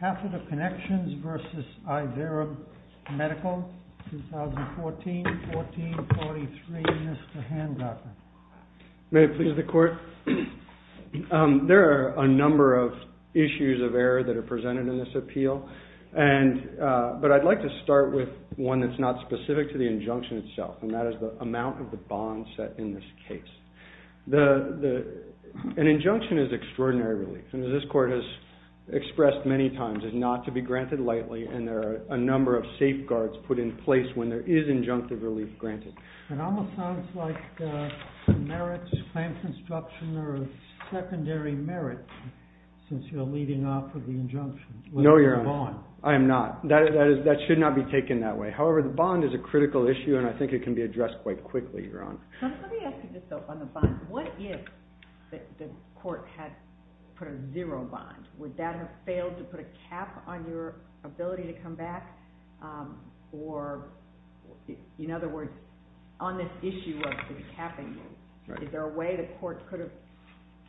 Catheter Connections v. Ivera Medical 2014-1443, Mr. Hancock. May it please the Court? There are a number of issues of error that are presented in this appeal, but I'd like to start with one that's not specific to the injunction itself, and that is the amount of the bond set in this case. An injunction is extraordinary relief, and as this Court has expressed many times, it's not to be granted lightly, and there are a number of safeguards put in place when there is injunctive relief granted. It almost sounds like some merits, claim construction or secondary merits, since you're leading off with the injunction. No, Your Honor. I am not. That should not be taken that way. However, the bond is a critical issue, and I think it can be addressed quite quickly, Your Honor. Let me ask you this, though, on the bond. What if the Court had put a zero bond? Would that have failed to put a cap on your ability to come back? Or, in other words, on this issue of the capping, is there a way the Court could have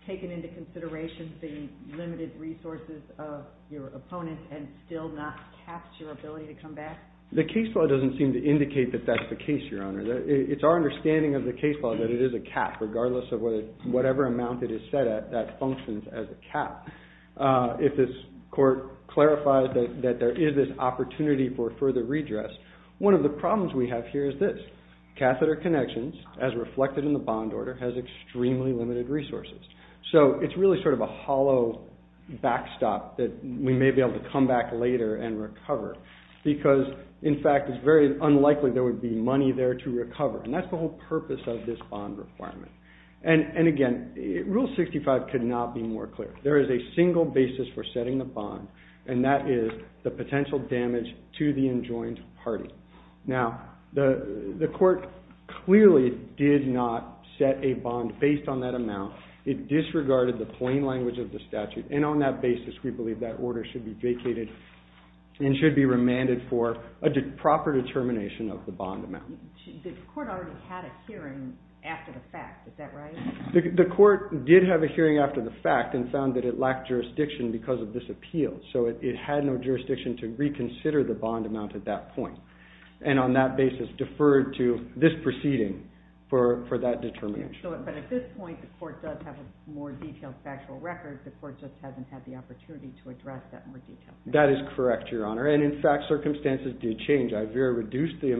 taken into consideration the limited resources of your opponent and still not capped your ability to come back? The case law doesn't seem to indicate that that's the case, Your Honor. It's our understanding of the case law that it is a cap, regardless of whatever amount it is set at, that functions as a cap. If this Court clarifies that there is this opportunity for further redress, one of the problems we have here is this. Catheter Connections, as reflected in the bond order, has extremely limited resources. So it's really sort of a hollow backstop that we may be able to come back later and recover, because, in fact, it's very unlikely there would be money there to recover. And that's the whole purpose of this bond requirement. And, again, Rule 65 could not be more clear. There is a single basis for setting the bond, and that is the potential damage to the enjoined party. Now, the Court clearly did not set a bond based on that amount. It disregarded the plain language of the statute. And on that basis, we believe that order should be vacated and should be The Court did have a hearing after the fact and found that it lacked jurisdiction because of this appeal. So it had no jurisdiction to reconsider the bond amount at that point. And on that basis, deferred to this proceeding for that determination. But at this point, the Court does have a more detailed factual record. The Court just hasn't had the opportunity to address that more detail. That is correct, Your Honor. And, in fact, circumstances did change. IVERA reduced the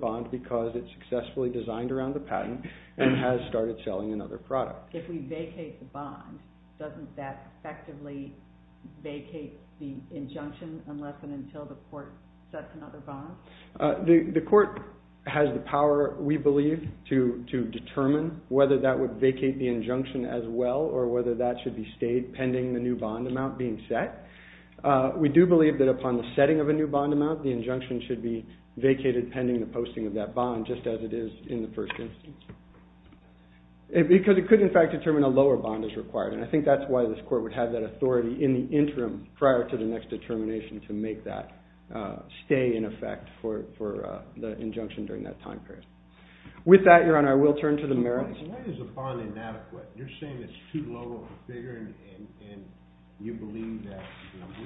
bond because it successfully designed around the patent and has started selling another product. If we vacate the bond, doesn't that effectively vacate the injunction unless and until the Court sets another bond? The Court has the power, we believe, to determine whether that would vacate the injunction as well or whether that should be stayed pending the new bond amount being set. We do believe that upon the setting of a new bond amount, the injunction should be of that bond just as it is in the first instance. Because it could, in fact, determine a lower bond is required. And I think that's why this Court would have that authority in the interim prior to the next determination to make that stay in effect for the injunction during that time period. With that, Your Honor, I will turn to the merits. Why is a bond inadequate? You're saying it's too low of a figure and you believe that,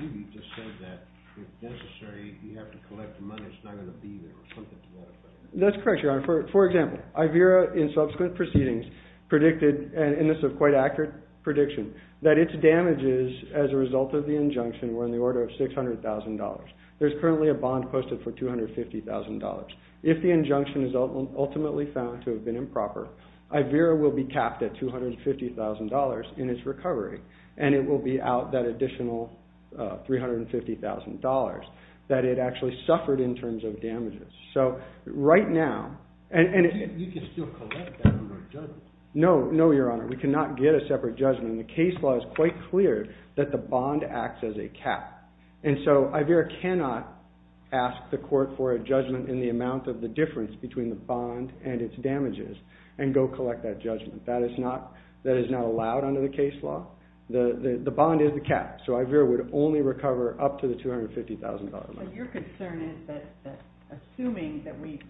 Ruby just said that, if necessary, you have to collect the money, it's not going to be there, something to that effect. That's correct, Your Honor. For example, IVERA, in subsequent proceedings, predicted, and this is a quite accurate prediction, that its damages as a result of the injunction were in the order of $600,000. There's currently a bond posted for $250,000. If the injunction is ultimately found to have been improper, IVERA will be capped at $250,000 in its recovery, and it will be out that additional $350,000 that it actually suffered in terms of damages. You can still collect that under a judgment. No, Your Honor. We cannot get a separate judgment. The case law is quite clear that the bond acts as a cap. And so IVERA cannot ask the Court for a judgment in the amount of the difference between the bond and its damages and go collect that judgment. That is not allowed under the case law. The bond is the cap, so IVERA would only recover up to the $250,000 limit. Your concern is that, assuming that we,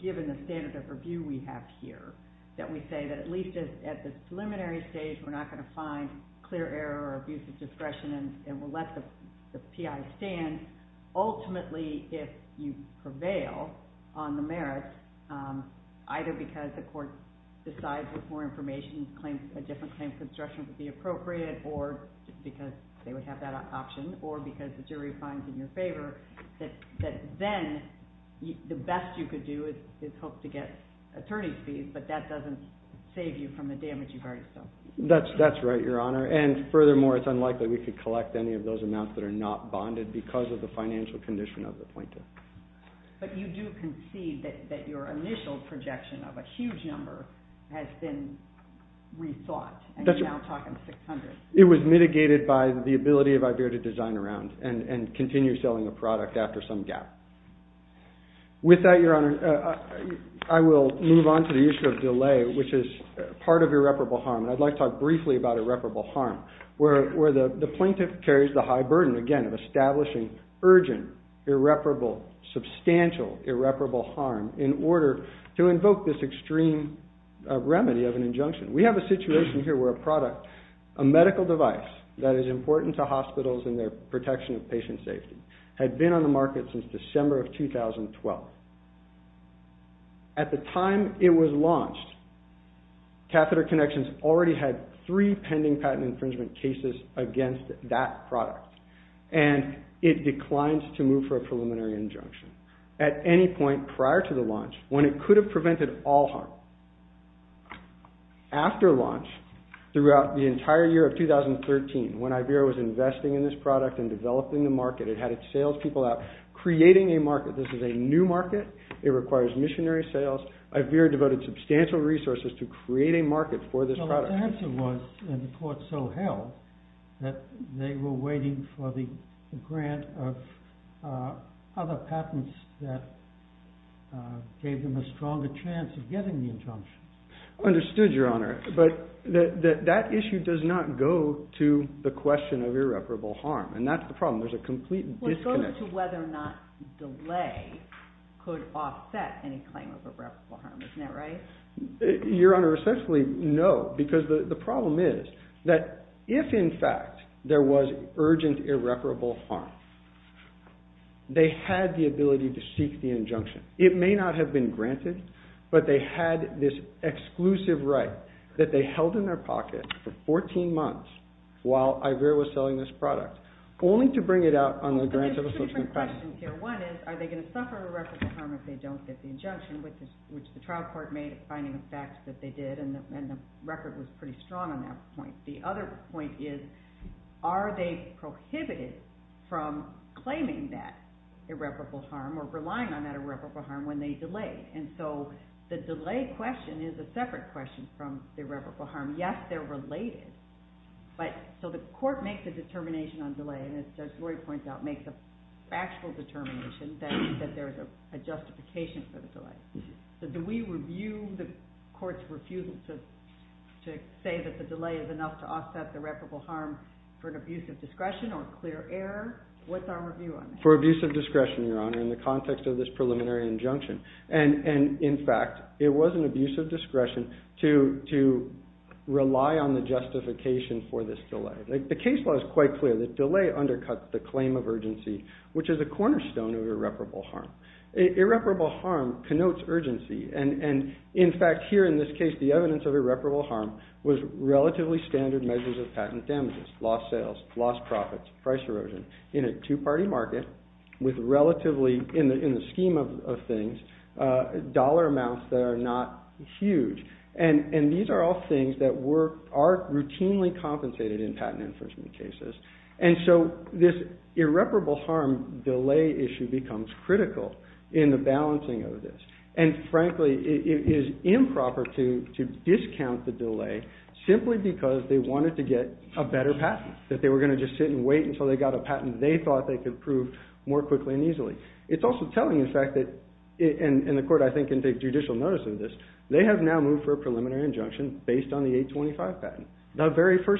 given the standard of review we have here, that we say that at least at the preliminary stage we're not going to find clear error or abuse of discretion and we'll let the PI stand, ultimately, if you prevail on the merits, either because the Court decides with more information a different claim construction would be appropriate, or because they would have that option, or because the jury finds in your favor, that then the best you could do is hope to get attorney's fees, but that doesn't save you from the damage you've already suffered. That's right, Your Honor. And furthermore, it's unlikely we could collect any of those amounts that are not bonded because of the financial condition of the plaintiff. But you do concede that your initial projection of a huge number has been rethought, and you're now talking $600,000. It was mitigated by the ability of IVERA to design around and continue selling a product after some gap. With that, Your Honor, I will move on to the issue of delay, which is part of irreparable harm, and I'd like to talk briefly about irreparable harm, where the plaintiff carries the high burden, again, of establishing urgent, irreparable, substantial, irreparable harm in order to invoke this extreme remedy of an injunction. We have a situation here where a product, a medical device that is important to hospitals in their protection of patient safety, had been on the market since December of 2012. At the time it was launched, Catheter Connections already had three pending patent infringement cases against that product, and it declined to move for a preliminary injunction at any point prior to the launch, when it could have prevented all harm. After launch, throughout the entire year of 2013, when IVERA was investing in this product and developing the market, it had its sales people out creating a market. This is a new market. It requires missionary sales. IVERA devoted substantial resources to create a market for this product. The answer was, and the court so held, that they were waiting for the grant of other patents that gave them a stronger chance of getting the injunction. Understood, Your Honor, but that issue does not go to the question of irreparable harm, and that's the problem. There's a complete disconnect. Well, it goes to whether or not delay could offset any claim of irreparable harm. Isn't that right? Your Honor, essentially, no, because the problem is that if, in fact, there was urgent irreparable harm, they had the ability to seek the injunction. It may not have been granted, but they had this exclusive right that they held in their pocket for 14 months while IVERA was investing. So it's a different question here. One is, are they going to suffer irreparable harm if they don't get the injunction, which the trial court made a finding of facts that they did, and the record was pretty strong on that point. The other point is, are they prohibited from claiming that irreparable harm or relying on that irreparable harm when they delay? And so the delay question is a separate question from the irreparable harm. Yes, they're related, but so the court makes a factual determination that there's a justification for the delay. But do we review the court's refusal to say that the delay is enough to offset the irreparable harm for an abuse of discretion or clear error? What's our review on that? For abuse of discretion, Your Honor, in the context of this preliminary injunction. And in fact, it was an abuse of discretion to rely on the justification for this delay. The case law is quite clear that delay undercuts the claim of urgency which is a cornerstone of irreparable harm. Irreparable harm connotes urgency. And in fact, here in this case, the evidence of irreparable harm was relatively standard measures of patent damages, lost sales, lost profits, price erosion in a two-party market with relatively, in the scheme of things, dollar amounts that are not huge. And these are all things that are routinely compensated in patent infringement cases. And so this irreparable harm delay issue becomes critical in the balancing of this. And frankly, it is improper to discount the delay simply because they wanted to get a better patent, that they were going to just sit and wait until they got a patent they thought they could prove more quickly and easily. It's also telling, in fact, that, and the court, I think, can take judicial notice of this, they have now moved for a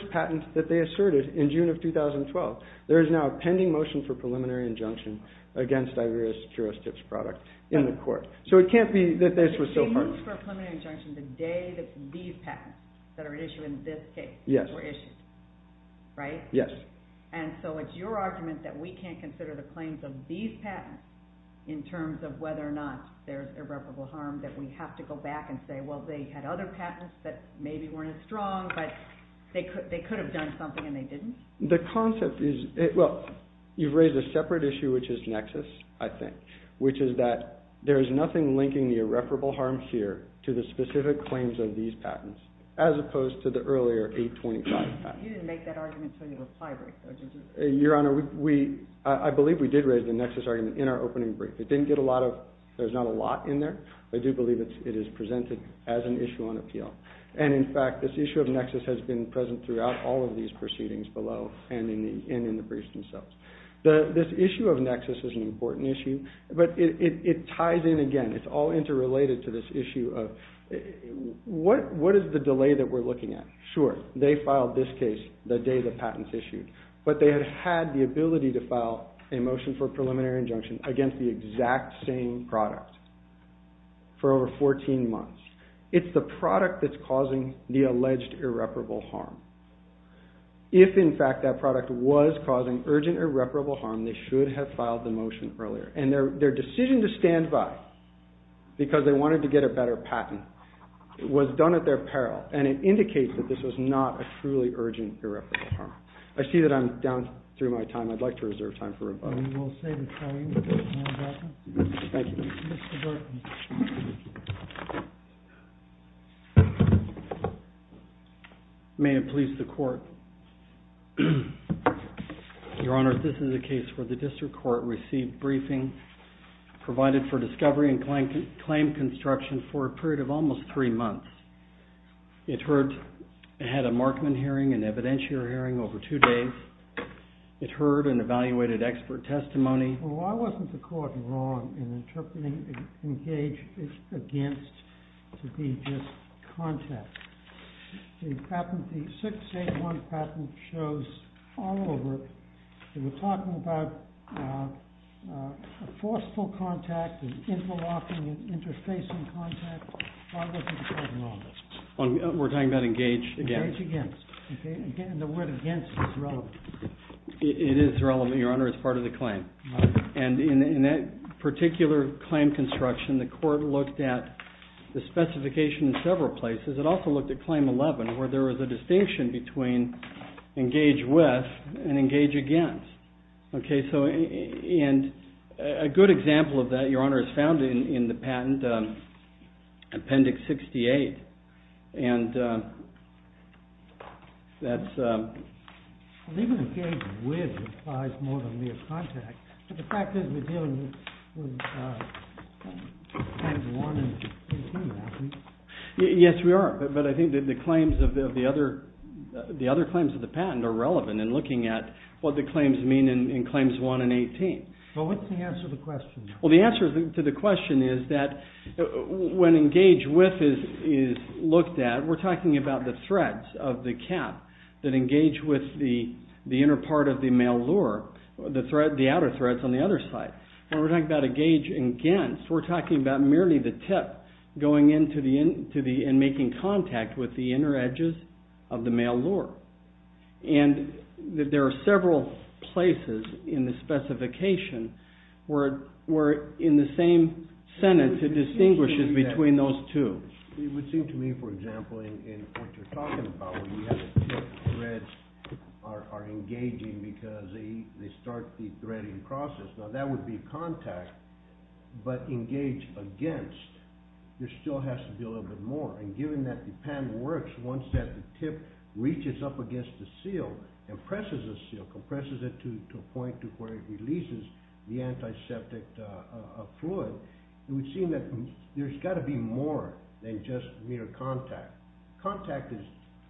patent that they asserted in June of 2012. There is now a pending motion for preliminary injunction against Ivoria's Jurisdict's product in the court. So it can't be that this was so hard. So you moved for a preliminary injunction the day that these patents that are at issue in this case were issued, right? Yes. And so it's your argument that we can't consider the claims of these patents in terms of whether or not there's irreparable harm, that we have to go back and say, well, they had other patents that maybe weren't as strong, but they could have done something and they didn't? The concept is, well, you've raised a separate issue, which is nexus, I think, which is that there is nothing linking the irreparable harm here to the specific claims of these patents, as opposed to the earlier 825 patents. You didn't make that argument until your reply break, though, did you? Your Honor, I believe we did raise the nexus argument in our opening brief. It didn't get a lot of, there's not a lot in there. I do believe it is presented as an issue on appeal. And in fact, this issue of nexus has been present throughout all of these proceedings below and in the briefs themselves. This issue of nexus is an important issue, but it ties in again. It's all interrelated to this issue of what is the delay that we're looking at? Sure, they filed this case the day the patents issued, but they had had the ability to file a motion for preliminary injunction against the exact same product for over 14 months. It's the product that's causing the alleged irreparable harm. If, in fact, that product was causing urgent irreparable harm, they should have filed the motion earlier. And their decision to stand by because they wanted to get a better patent was done at their peril, and it indicates that this was not a truly urgent irreparable harm. I see that I'm down through my time. I'd like to reserve time for rebuttal. May it please the court. Your Honor, this is a case where the district court received briefing provided for discovery and claim construction for a period of almost three months. It had a Markman hearing, an evidentiary hearing over two days. It heard and evaluated expert testimony. Well, I wasn't the court wrong in interpreting engage against to be just contact. In patent, the 681 patent shows all over, they were talking about a forceful contact, interlocking, interfacing contact. I wasn't the court wrong in this. We're talking about engage against. Engage against. And the word against is relevant. It is relevant, Your Honor, as part of the claim. And in that particular claim construction, the court looked at the specification in several places. It also looked at claim 11, where there was a distinction between engage with and engage against. And a good example of that, Your Honor, is found in the patent Appendix 68. And that's... Well, even engage with implies more than mere contact. But the fact is we're dealing with claims 1 and 18, Matthew. Yes, we are. But I think that the claims of the other claims of the patent are relevant in looking at what the claims mean in claims 1 and 18. Well, what's the answer to the question? Well, the answer to the question is that when engage with is looked at, we're talking about the threads of the cap that engage with the inner part of the male lure, the outer threads on the other side. When we're talking about engage against, we're talking about merely the tip going into the... and making contact with the inner edges of the male lure. And there are several places in the specification where, in the same sentence, it distinguishes between those two. It would seem to me, for example, in what you're talking about, when you have the tip, threads are engaging because they start the threading process. Now, that would be contact, but engage against, there still has to be a little bit more. And given that the patent works, once that the tip reaches up against the seal and presses the seal, compresses it to a point to where it releases the antiseptic fluid, it would seem that there's got to be more than just mere contact. Contact is,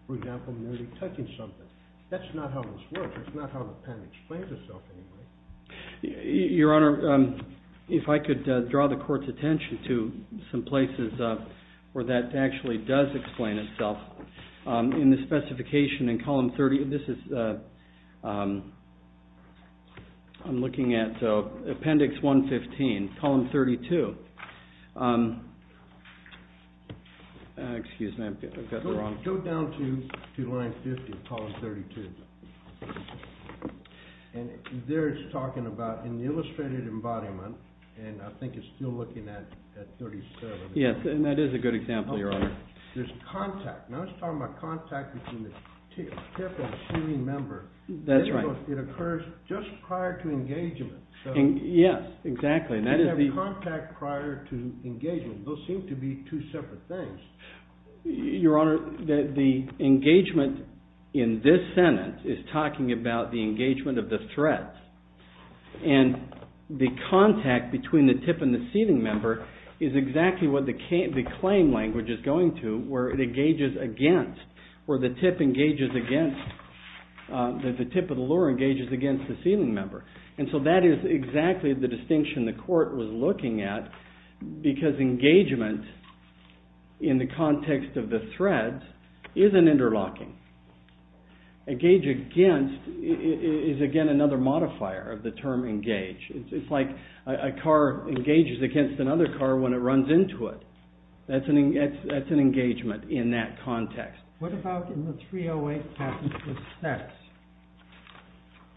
for example, merely touching something. That's not how this works. That's not how the patent explains itself anyway. Your Honor, if I could draw the court's attention to some places where that actually does explain itself. In the specification in column 30, this is... I'm looking at appendix 115, column 32. Excuse me, I've got the wrong... Go down to line 50, column 32. And there it's talking about, in the illustrated embodiment, and I think it's still looking at 37. Yes, and that is a good example, Your Honor. There's contact. Now, it's talking about contact between the tip and the sealing member. That's right. It occurs just prior to engagement. Yes, exactly. You have contact prior to engagement. Those seem to be two separate things. Your Honor, the engagement in this sentence is talking about the engagement of the threat. And the contact between the tip and the sealing member is exactly what the claim language is where it engages against, where the tip engages against, the tip of the lure engages against the sealing member. And so that is exactly the distinction the court was looking at, because engagement, in the context of the threat, is an interlocking. Engage against is, again, another modifier of the term engage. It's like a car engages against another car when it runs into it. That's an engagement in that context. What about in the 308 passage, the sex?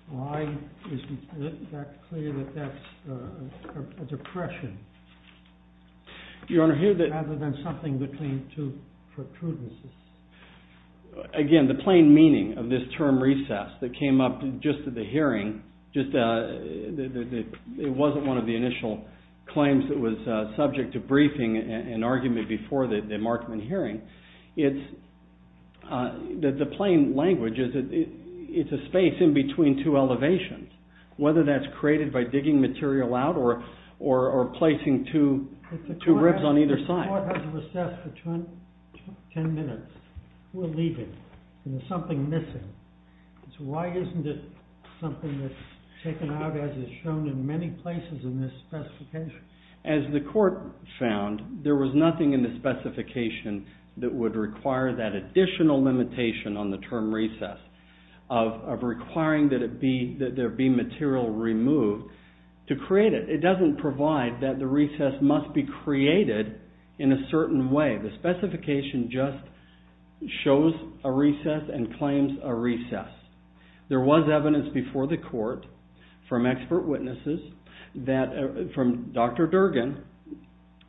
Why is it that clear that that's a depression? Your Honor, here the— Rather than something between two protrudences. Again, the plain meaning of this term recess that came up just at the hearing, just that it wasn't one of the initial claims that was subject to briefing and argument before the Markman hearing. The plain language is that it's a space in between two elevations, whether that's created by digging material out or placing two ribs on either side. The court has recessed for 10 minutes. We're leaving, and there's something missing. Why isn't it something that's taken out, as is shown in many places in this specification? As the court found, there was nothing in the specification that would require that additional limitation on the term recess, of requiring that there be material removed to create it. It doesn't provide that the recess must be created in a certain way. The specification just shows a recess and claims a recess. There was evidence before the court from expert witnesses, from Dr. Durgin,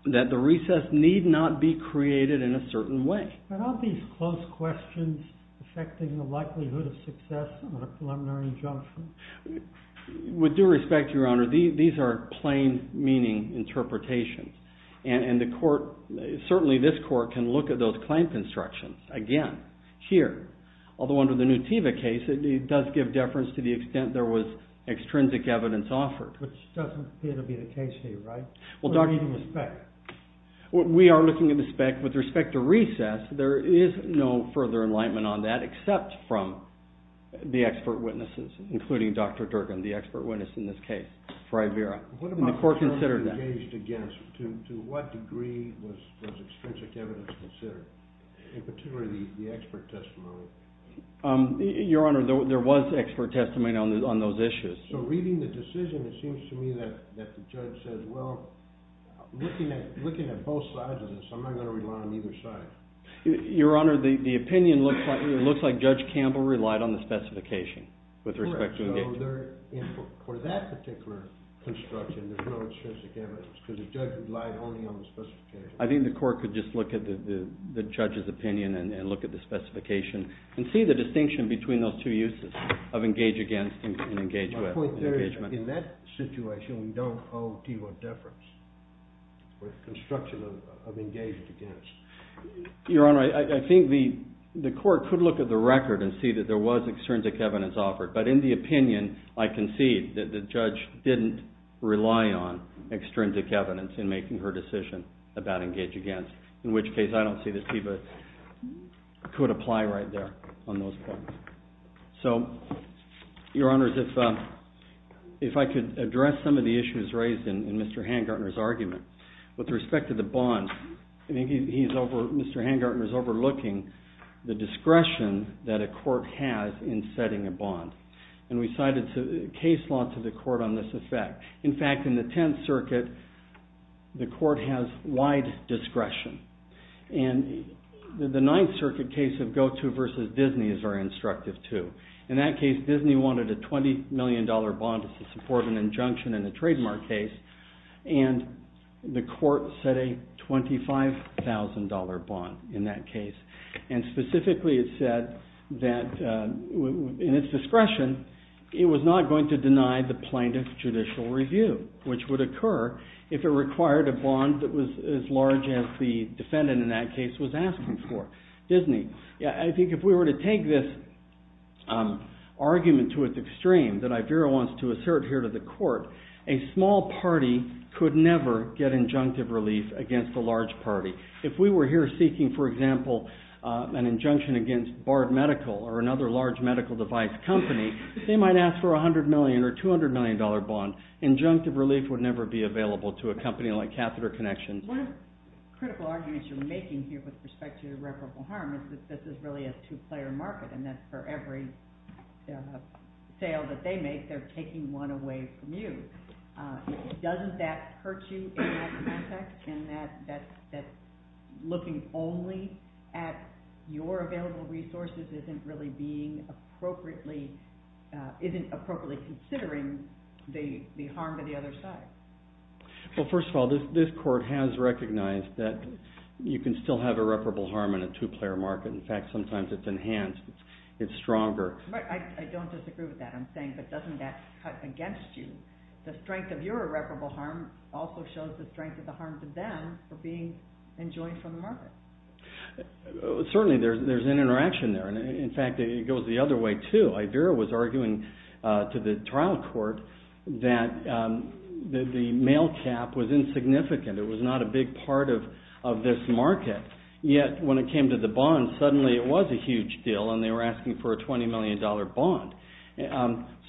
that the recess need not be created in a certain way. But aren't these close questions affecting the likelihood of success in a preliminary injunction? With due respect, Your Honor, these are plain meaning interpretations. And certainly this court can look at those claim constructions again here. Although under the Nutiva case, it does give deference to the extent there was extrinsic evidence offered. Which doesn't appear to be the case here, right? Well, we are looking at the spec. With respect to recess, there is no further enlightenment on that except from the expert witnesses, including Dr. Durgin, the expert witness in this case for Ivera. The court considered that. What about the terms engaged against? To what degree was extrinsic evidence considered? In particular, the expert testimony. Your Honor, there was expert testimony on those issues. So reading the decision, it seems to me that the judge says, well, looking at both sides of this, I'm not going to rely on either side. Your Honor, the opinion looks like Judge Campbell relied on the specification. With respect to engagement. For that particular construction, there's no extrinsic evidence, because the judge relied only on the specification. I think the court could just look at the judge's opinion and look at the specification and see the distinction between those two uses of engage against and engage with. My point there is, in that situation, we don't owe Deva deference. With construction of engaged against. Your Honor, I think the court could look at the record and see that there was extrinsic evidence offered. But in the opinion, I concede that the judge didn't rely on extrinsic evidence in making her decision about engage against. In which case, I don't see that Deva could apply right there on those points. So, Your Honor, if I could address some of the issues raised in Mr. Hangartner's argument. With respect to the bond, I think Mr. Hangartner is overlooking the discretion that a court has in setting a bond. And we cited case law to the court on this effect. In fact, in the Tenth Circuit, the court has wide discretion. And the Ninth Circuit case of Goto versus Disney is very instructive, too. In that case, Disney wanted a $20 million bond to support an injunction in a trademark case. And the court set a $25,000 bond in that case. And specifically, it said that in its discretion, it was not going to deny the plaintiff's judicial review, which would occur if it required a bond that was as large as the defendant in that case was asking for. Disney, I think if we were to take this argument to its extreme that Ivera wants to assert here to the court, a small party could never get injunctive relief against a large party. If we were here seeking, for example, an injunction against Bard Medical or another large medical device company, they might ask for a $100 million or $200 million bond. Injunctive relief would never be available to a company like Catheter Connections. One of the critical arguments you're making here with respect to irreparable harm is that this is really a two-player market and that for every sale that they make, they're taking one away from you. Doesn't that hurt you in that context, in that looking only at your available resources isn't really appropriately considering the harm to the other side? Well, first of all, this court has recognized that you can still have irreparable harm in a two-player market. In fact, sometimes it's enhanced, it's stronger. I don't disagree with that. I'm saying, but doesn't that cut against you the strength of your irreparable harm also shows the strength of the harm to them for being enjoined from the market? Certainly, there's an interaction there. And in fact, it goes the other way too. Ivera was arguing to the trial court that the mail cap was insignificant. It was not a big part of this market. Yet, when it came to the bond, suddenly it was a huge deal and they were asking for a $20 million bond.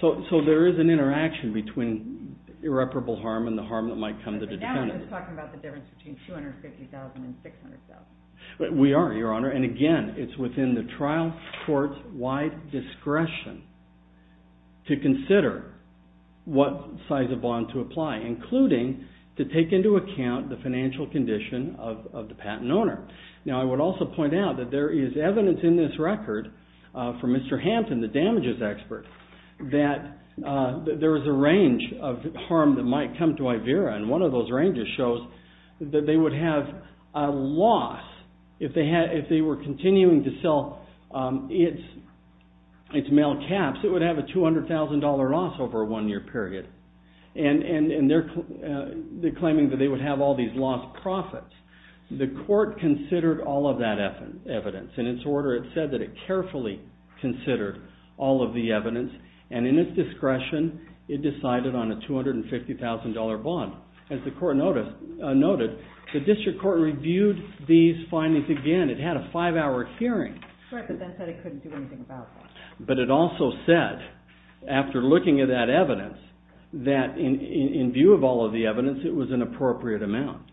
So there is an interaction between irreparable harm and the harm that might come to the defendant. But now we're just talking about the difference between $250,000 and $600,000. We are, Your Honor. And again, it's within the trial court's wide discretion to consider what size of bond to apply, including to take into account the financial condition of the patent owner. Now, I would also point out that there is evidence in this record from Mr. Hampton, the damages expert, that there is a range of harm that might come to Ivera. And one of those ranges shows that they would have a loss if they were continuing to sell its mail caps. It would have a $200,000 loss over a one-year period. And they're claiming that they would have all these lost profits. The court considered all of that evidence. In its order, it said that it carefully considered all of the evidence. And in its discretion, it decided on a $250,000 bond. As the court noted, the district court reviewed these findings again. It had a five-hour hearing. Right, but then said it couldn't do anything about that. But it also said, after looking at that evidence, that in view of all of the evidence, it was an appropriate amount.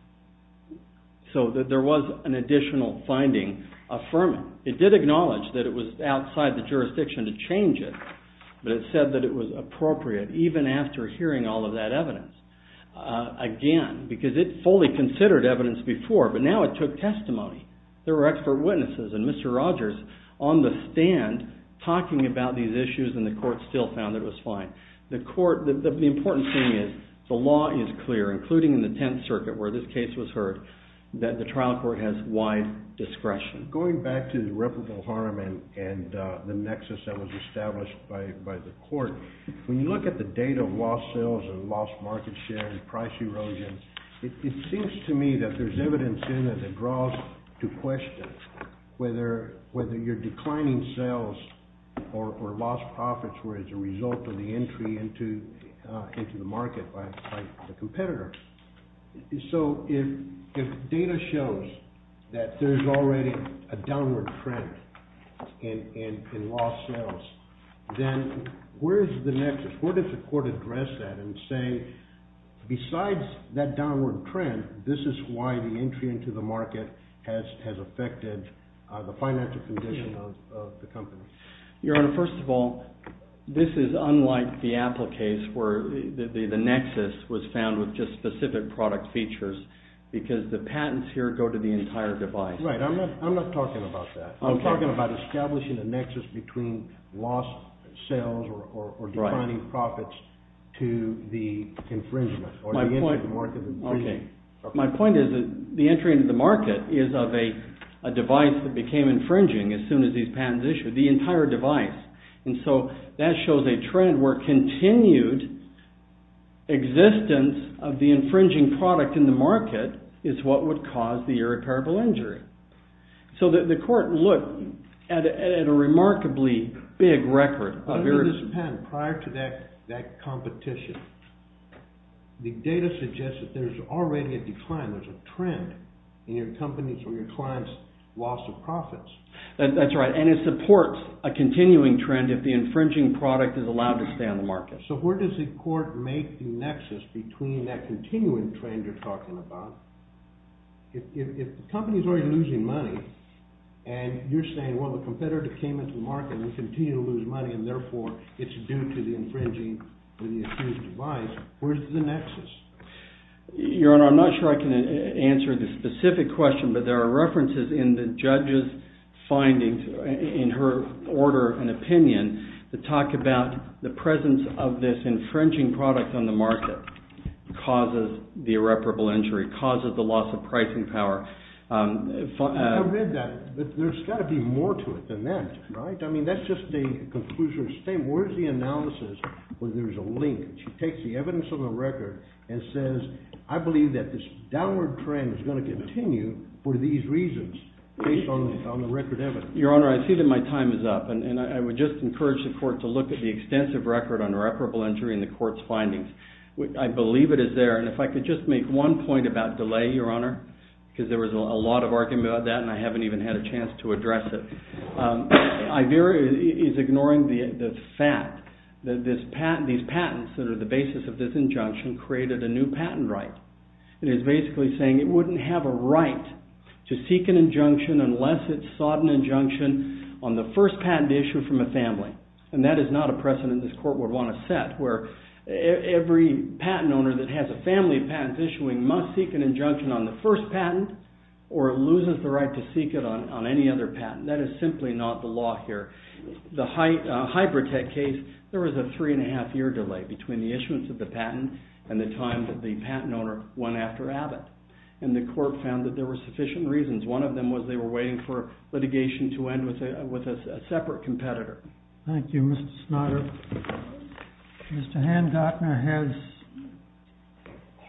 So, there was an additional finding affirming. It did acknowledge that it was outside the jurisdiction to change it. But it said that it was appropriate, even after hearing all of that evidence, again, because it fully considered evidence before. But now it took testimony. There were expert witnesses. And Mr. Rogers, on the stand, talking about these issues, and the court still found it was fine. The court, the important thing is, the law is clear, including in the Tenth Circuit, where this case was heard, that the trial court has wide discretion. Going back to the reputable harm and the nexus that was established by the court, when you look at the date of lost sales or lost market share and price erosion, it seems to me that there's evidence in that it draws to question whether you're declining sales or lost profits were as a result of the entry into the market by the competitor. So, if data shows that there's already a downward trend in lost sales, then where is the nexus? Where does the court address that and say, besides that downward trend, this is why the entry into the market has affected the financial condition of the company? Your Honor, first of all, this is unlike the Apple case, where the nexus was found with just specific product features, because the patents here go to the entire device. Right, I'm not talking about that. I'm talking about establishing a nexus between lost sales or declining profits to the infringement, or the entry into the market. Okay, my point is that the entry into the market is of a device that became infringing as soon as these patents issued. The entire device. And so, that shows a trend where continued existence of the infringing product in the market is what would cause the irreparable injury. So, the court looked at a remarkably big record of irreparable... Under this patent, prior to that competition, the data suggests that there's already a decline, there's a trend in your company's or your client's loss of profits. That's right, and it supports a continuing trend if the infringing product is allowed to stay on the market. So, where does the court make the nexus between that continuing trend you're talking about? If the company's already losing money, and you're saying, well, the competitor came into the market, and we continue to lose money, and therefore, it's due to the infringing of the issued device, where's the nexus? Your Honor, I'm not sure I can answer this specific question, but there are references in the judge's findings, in her order and opinion, that talk about the presence of this infringing product on the market causes the irreparable injury, causes the loss of pricing power. I read that, but there's got to be more to it than that, right? I mean, that's just the conclusion of the statement. Where's the analysis when there's a link? She takes the evidence of the record and says, I believe that this downward trend is going to continue for these reasons, based on the record evidence. Your Honor, I see that my time is up, and I would just encourage the court to look at the extensive record on irreparable injury in the court's findings. I believe it is there, and if I could just make one point about delay, Your Honor, because there was a lot of argument about that, and I haven't even had a chance to address it. Iveyra is ignoring the fact that these patents that are the basis of this injunction created a new patent right. It is basically saying it wouldn't have a right to seek an injunction unless it sought an injunction on the first patent issued from a family, and that is not a precedent this court would want to set, where every patent owner that has a family of patents issuing must seek an injunction on the first patent, or loses the right to seek it on any other patent. That is simply not the law here. The Hybratec case, there was a three and a half year delay between the issuance of the patent and the time that the patent owner went after Abbott, and the court found that there were sufficient reasons. One of them was they were waiting for litigation to end with a separate competitor. Thank you, Mr. Snodder. Mr. Handgartner has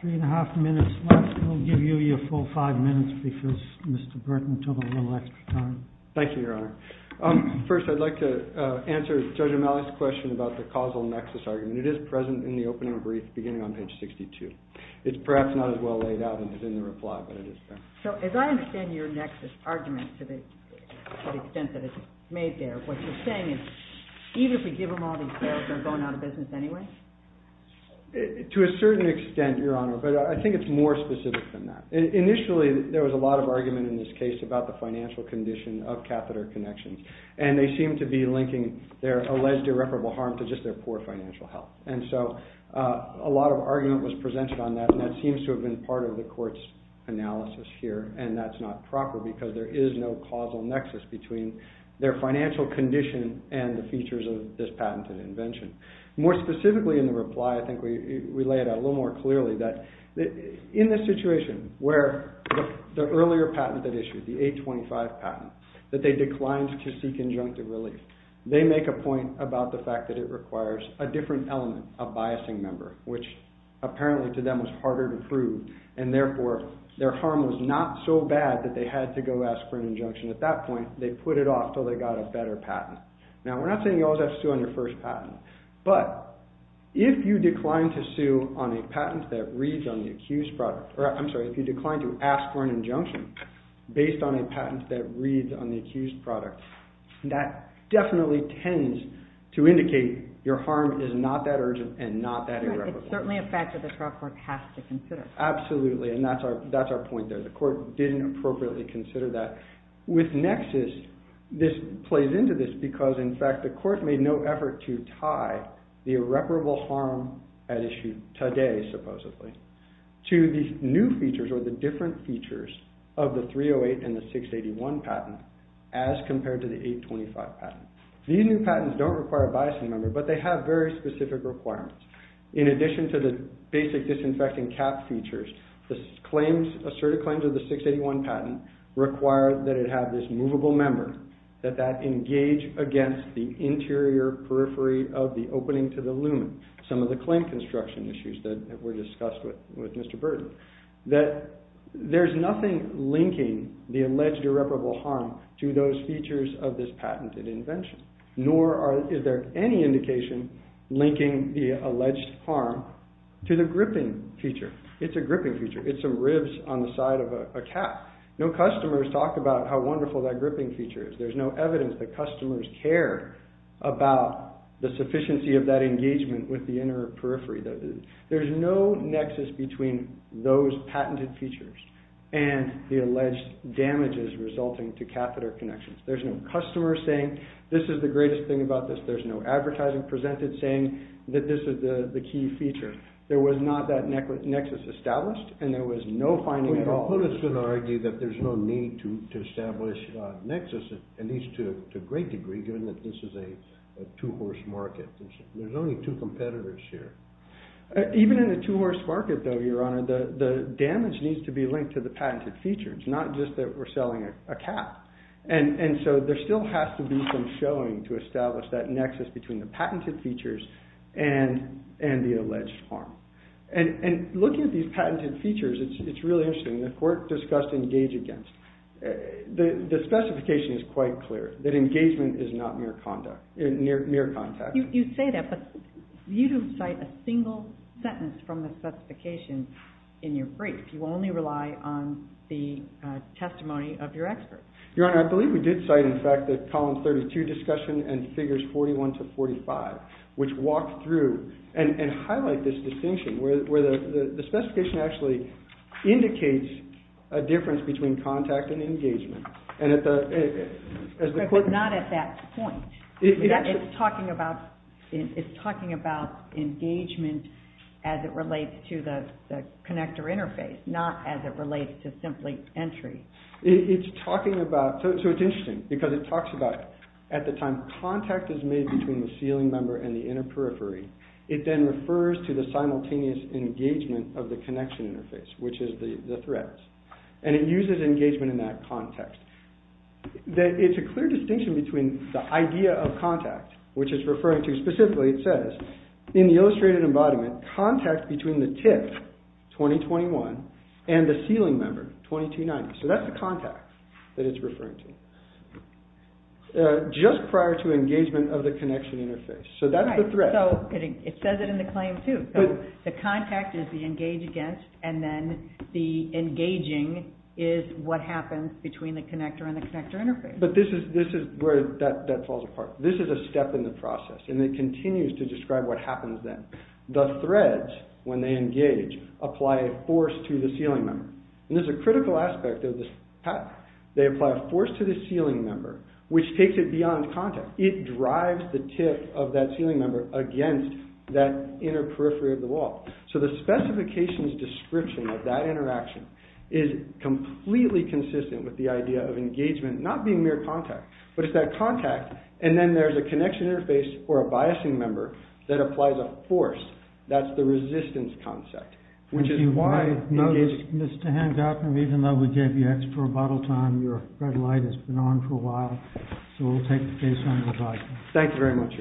three and a half minutes left. We'll give you your full five minutes because Mr. Burton took a little extra time. Thank you, Your Honor. First, I'd like to answer Judge O'Malley's question about the causal nexus argument. It is present in the opening brief beginning on page 62. It's perhaps not as well laid out as in the reply, but it is there. So as I understand your nexus argument to the extent that it's made there, what you're saying is even if we give them all these sales, they're going out of business anyway? To a certain extent, Your Honor, but I think it's more specific than that. Initially, there was a lot of argument in this case about the financial condition of catheter connections, and they seem to be linking their alleged irreparable harm to just their poor financial health. And so a lot of argument was presented on that, and that seems to have been part of the court's analysis here. And that's not proper because there is no causal nexus between their financial condition and the features of this patented invention. More specifically in the reply, I think we lay it out a little more clearly that in this situation where the earlier patent that issued, the 825 patent, that they declined to seek injunctive relief, they make a point about the fact that it requires a different element, a biasing member, which apparently to them was harder to prove. And therefore, their harm was not so bad that they had to go ask for an injunction. At that point, they put it off until they got a better patent. Now, we're not saying you always have to sue on your first patent, but if you decline to sue on a patent that reads on the accused product, or I'm sorry, if you decline to ask for an injunction based on a patent that reads on the accused product, that definitely tends to indicate your harm is not that urgent and not that irreparable. It's certainly a factor the trial court has to consider. Absolutely. And that's our point there. The court didn't appropriately consider that. With nexus, this plays into this because, in fact, the court made no effort to tie the irreparable harm at issue today, supposedly, to these new features or the different features of the 308 and the 681 patent as compared to the 825 patent. These new patents don't require a biasing member, but they have very specific requirements. In addition to the basic disinfecting cap features, the asserted claims of the 681 patent require that it have this movable member, that that engage against the interior periphery of the opening to the lumen, some of the claim construction issues that were discussed with Mr. Burton, that there's nothing linking the alleged irreparable harm to those features of this patented invention. Nor is there any indication linking the alleged harm to the gripping feature. It's a gripping feature. It's some ribs on the side of a cap. No customers talk about how wonderful that gripping feature is. There's no evidence that customers care about the sufficiency of that engagement with the inner periphery. There's no nexus between those patented features and the alleged damages resulting to catheter connections. There's no customer saying, this is the greatest thing about this. There's no advertising presented saying that this is the key feature. There was not that nexus established, and there was no finding at all. Well, who is going to argue that there's no need to establish a nexus, at least to a great degree, given that this is a two-horse market? There's only two competitors here. Even in a two-horse market, though, Your Honor, the damage needs to be linked to the patented features, not just that we're selling a cap. And so there still has to be some showing to establish that nexus between the patented features and the alleged harm. And looking at these patented features, it's really interesting. The court discussed engage against. The specification is quite clear, that engagement is not mere contact. You say that, but you don't cite a single sentence from the specification in your brief. You only rely on the testimony of your expert. Your Honor, I believe we did cite, in fact, that column 32 discussion and figures 41 to 45, which walked through and highlight this distinction, where the specification actually indicates a difference between contact and engagement. But it's not at that point. It's talking about engagement as it relates to the connector interface, not as it relates to simply entry. It's talking about, so it's interesting, because it talks about, at the time, contact is made between the ceiling member and the inner periphery. It then refers to the simultaneous engagement of the connection interface, which is the threads. And it uses engagement in that context. It's a clear distinction between the idea of contact, which it's referring to. Specifically, it says, in the illustrated embodiment, contact between the tip, 2021, and the ceiling member, 2290. So that's the contact that it's referring to, just prior to engagement of the connection interface. So that is the thread. So it says it in the claim, too. The contact is the engage against, and then the engaging is what happens between the connector and the connector interface. But this is where that falls apart. This is a step in the process, and it continues to describe what happens then. The threads, when they engage, apply a force to the ceiling member. And there's a critical aspect of this path. They apply a force to the ceiling member, which takes it beyond contact. It drives the tip of that ceiling member against that inner periphery of the wall. So the specifications description of that interaction is completely consistent with the idea of engagement not being mere contact, but it's that contact. And then there's a connection interface for a biasing member that applies a force. That's the resistance concept, which is why, Mr. Hancock, and even though we gave you extra bottle time, your red light has been on for a while. So we'll take the case on your advice. Thank you very much.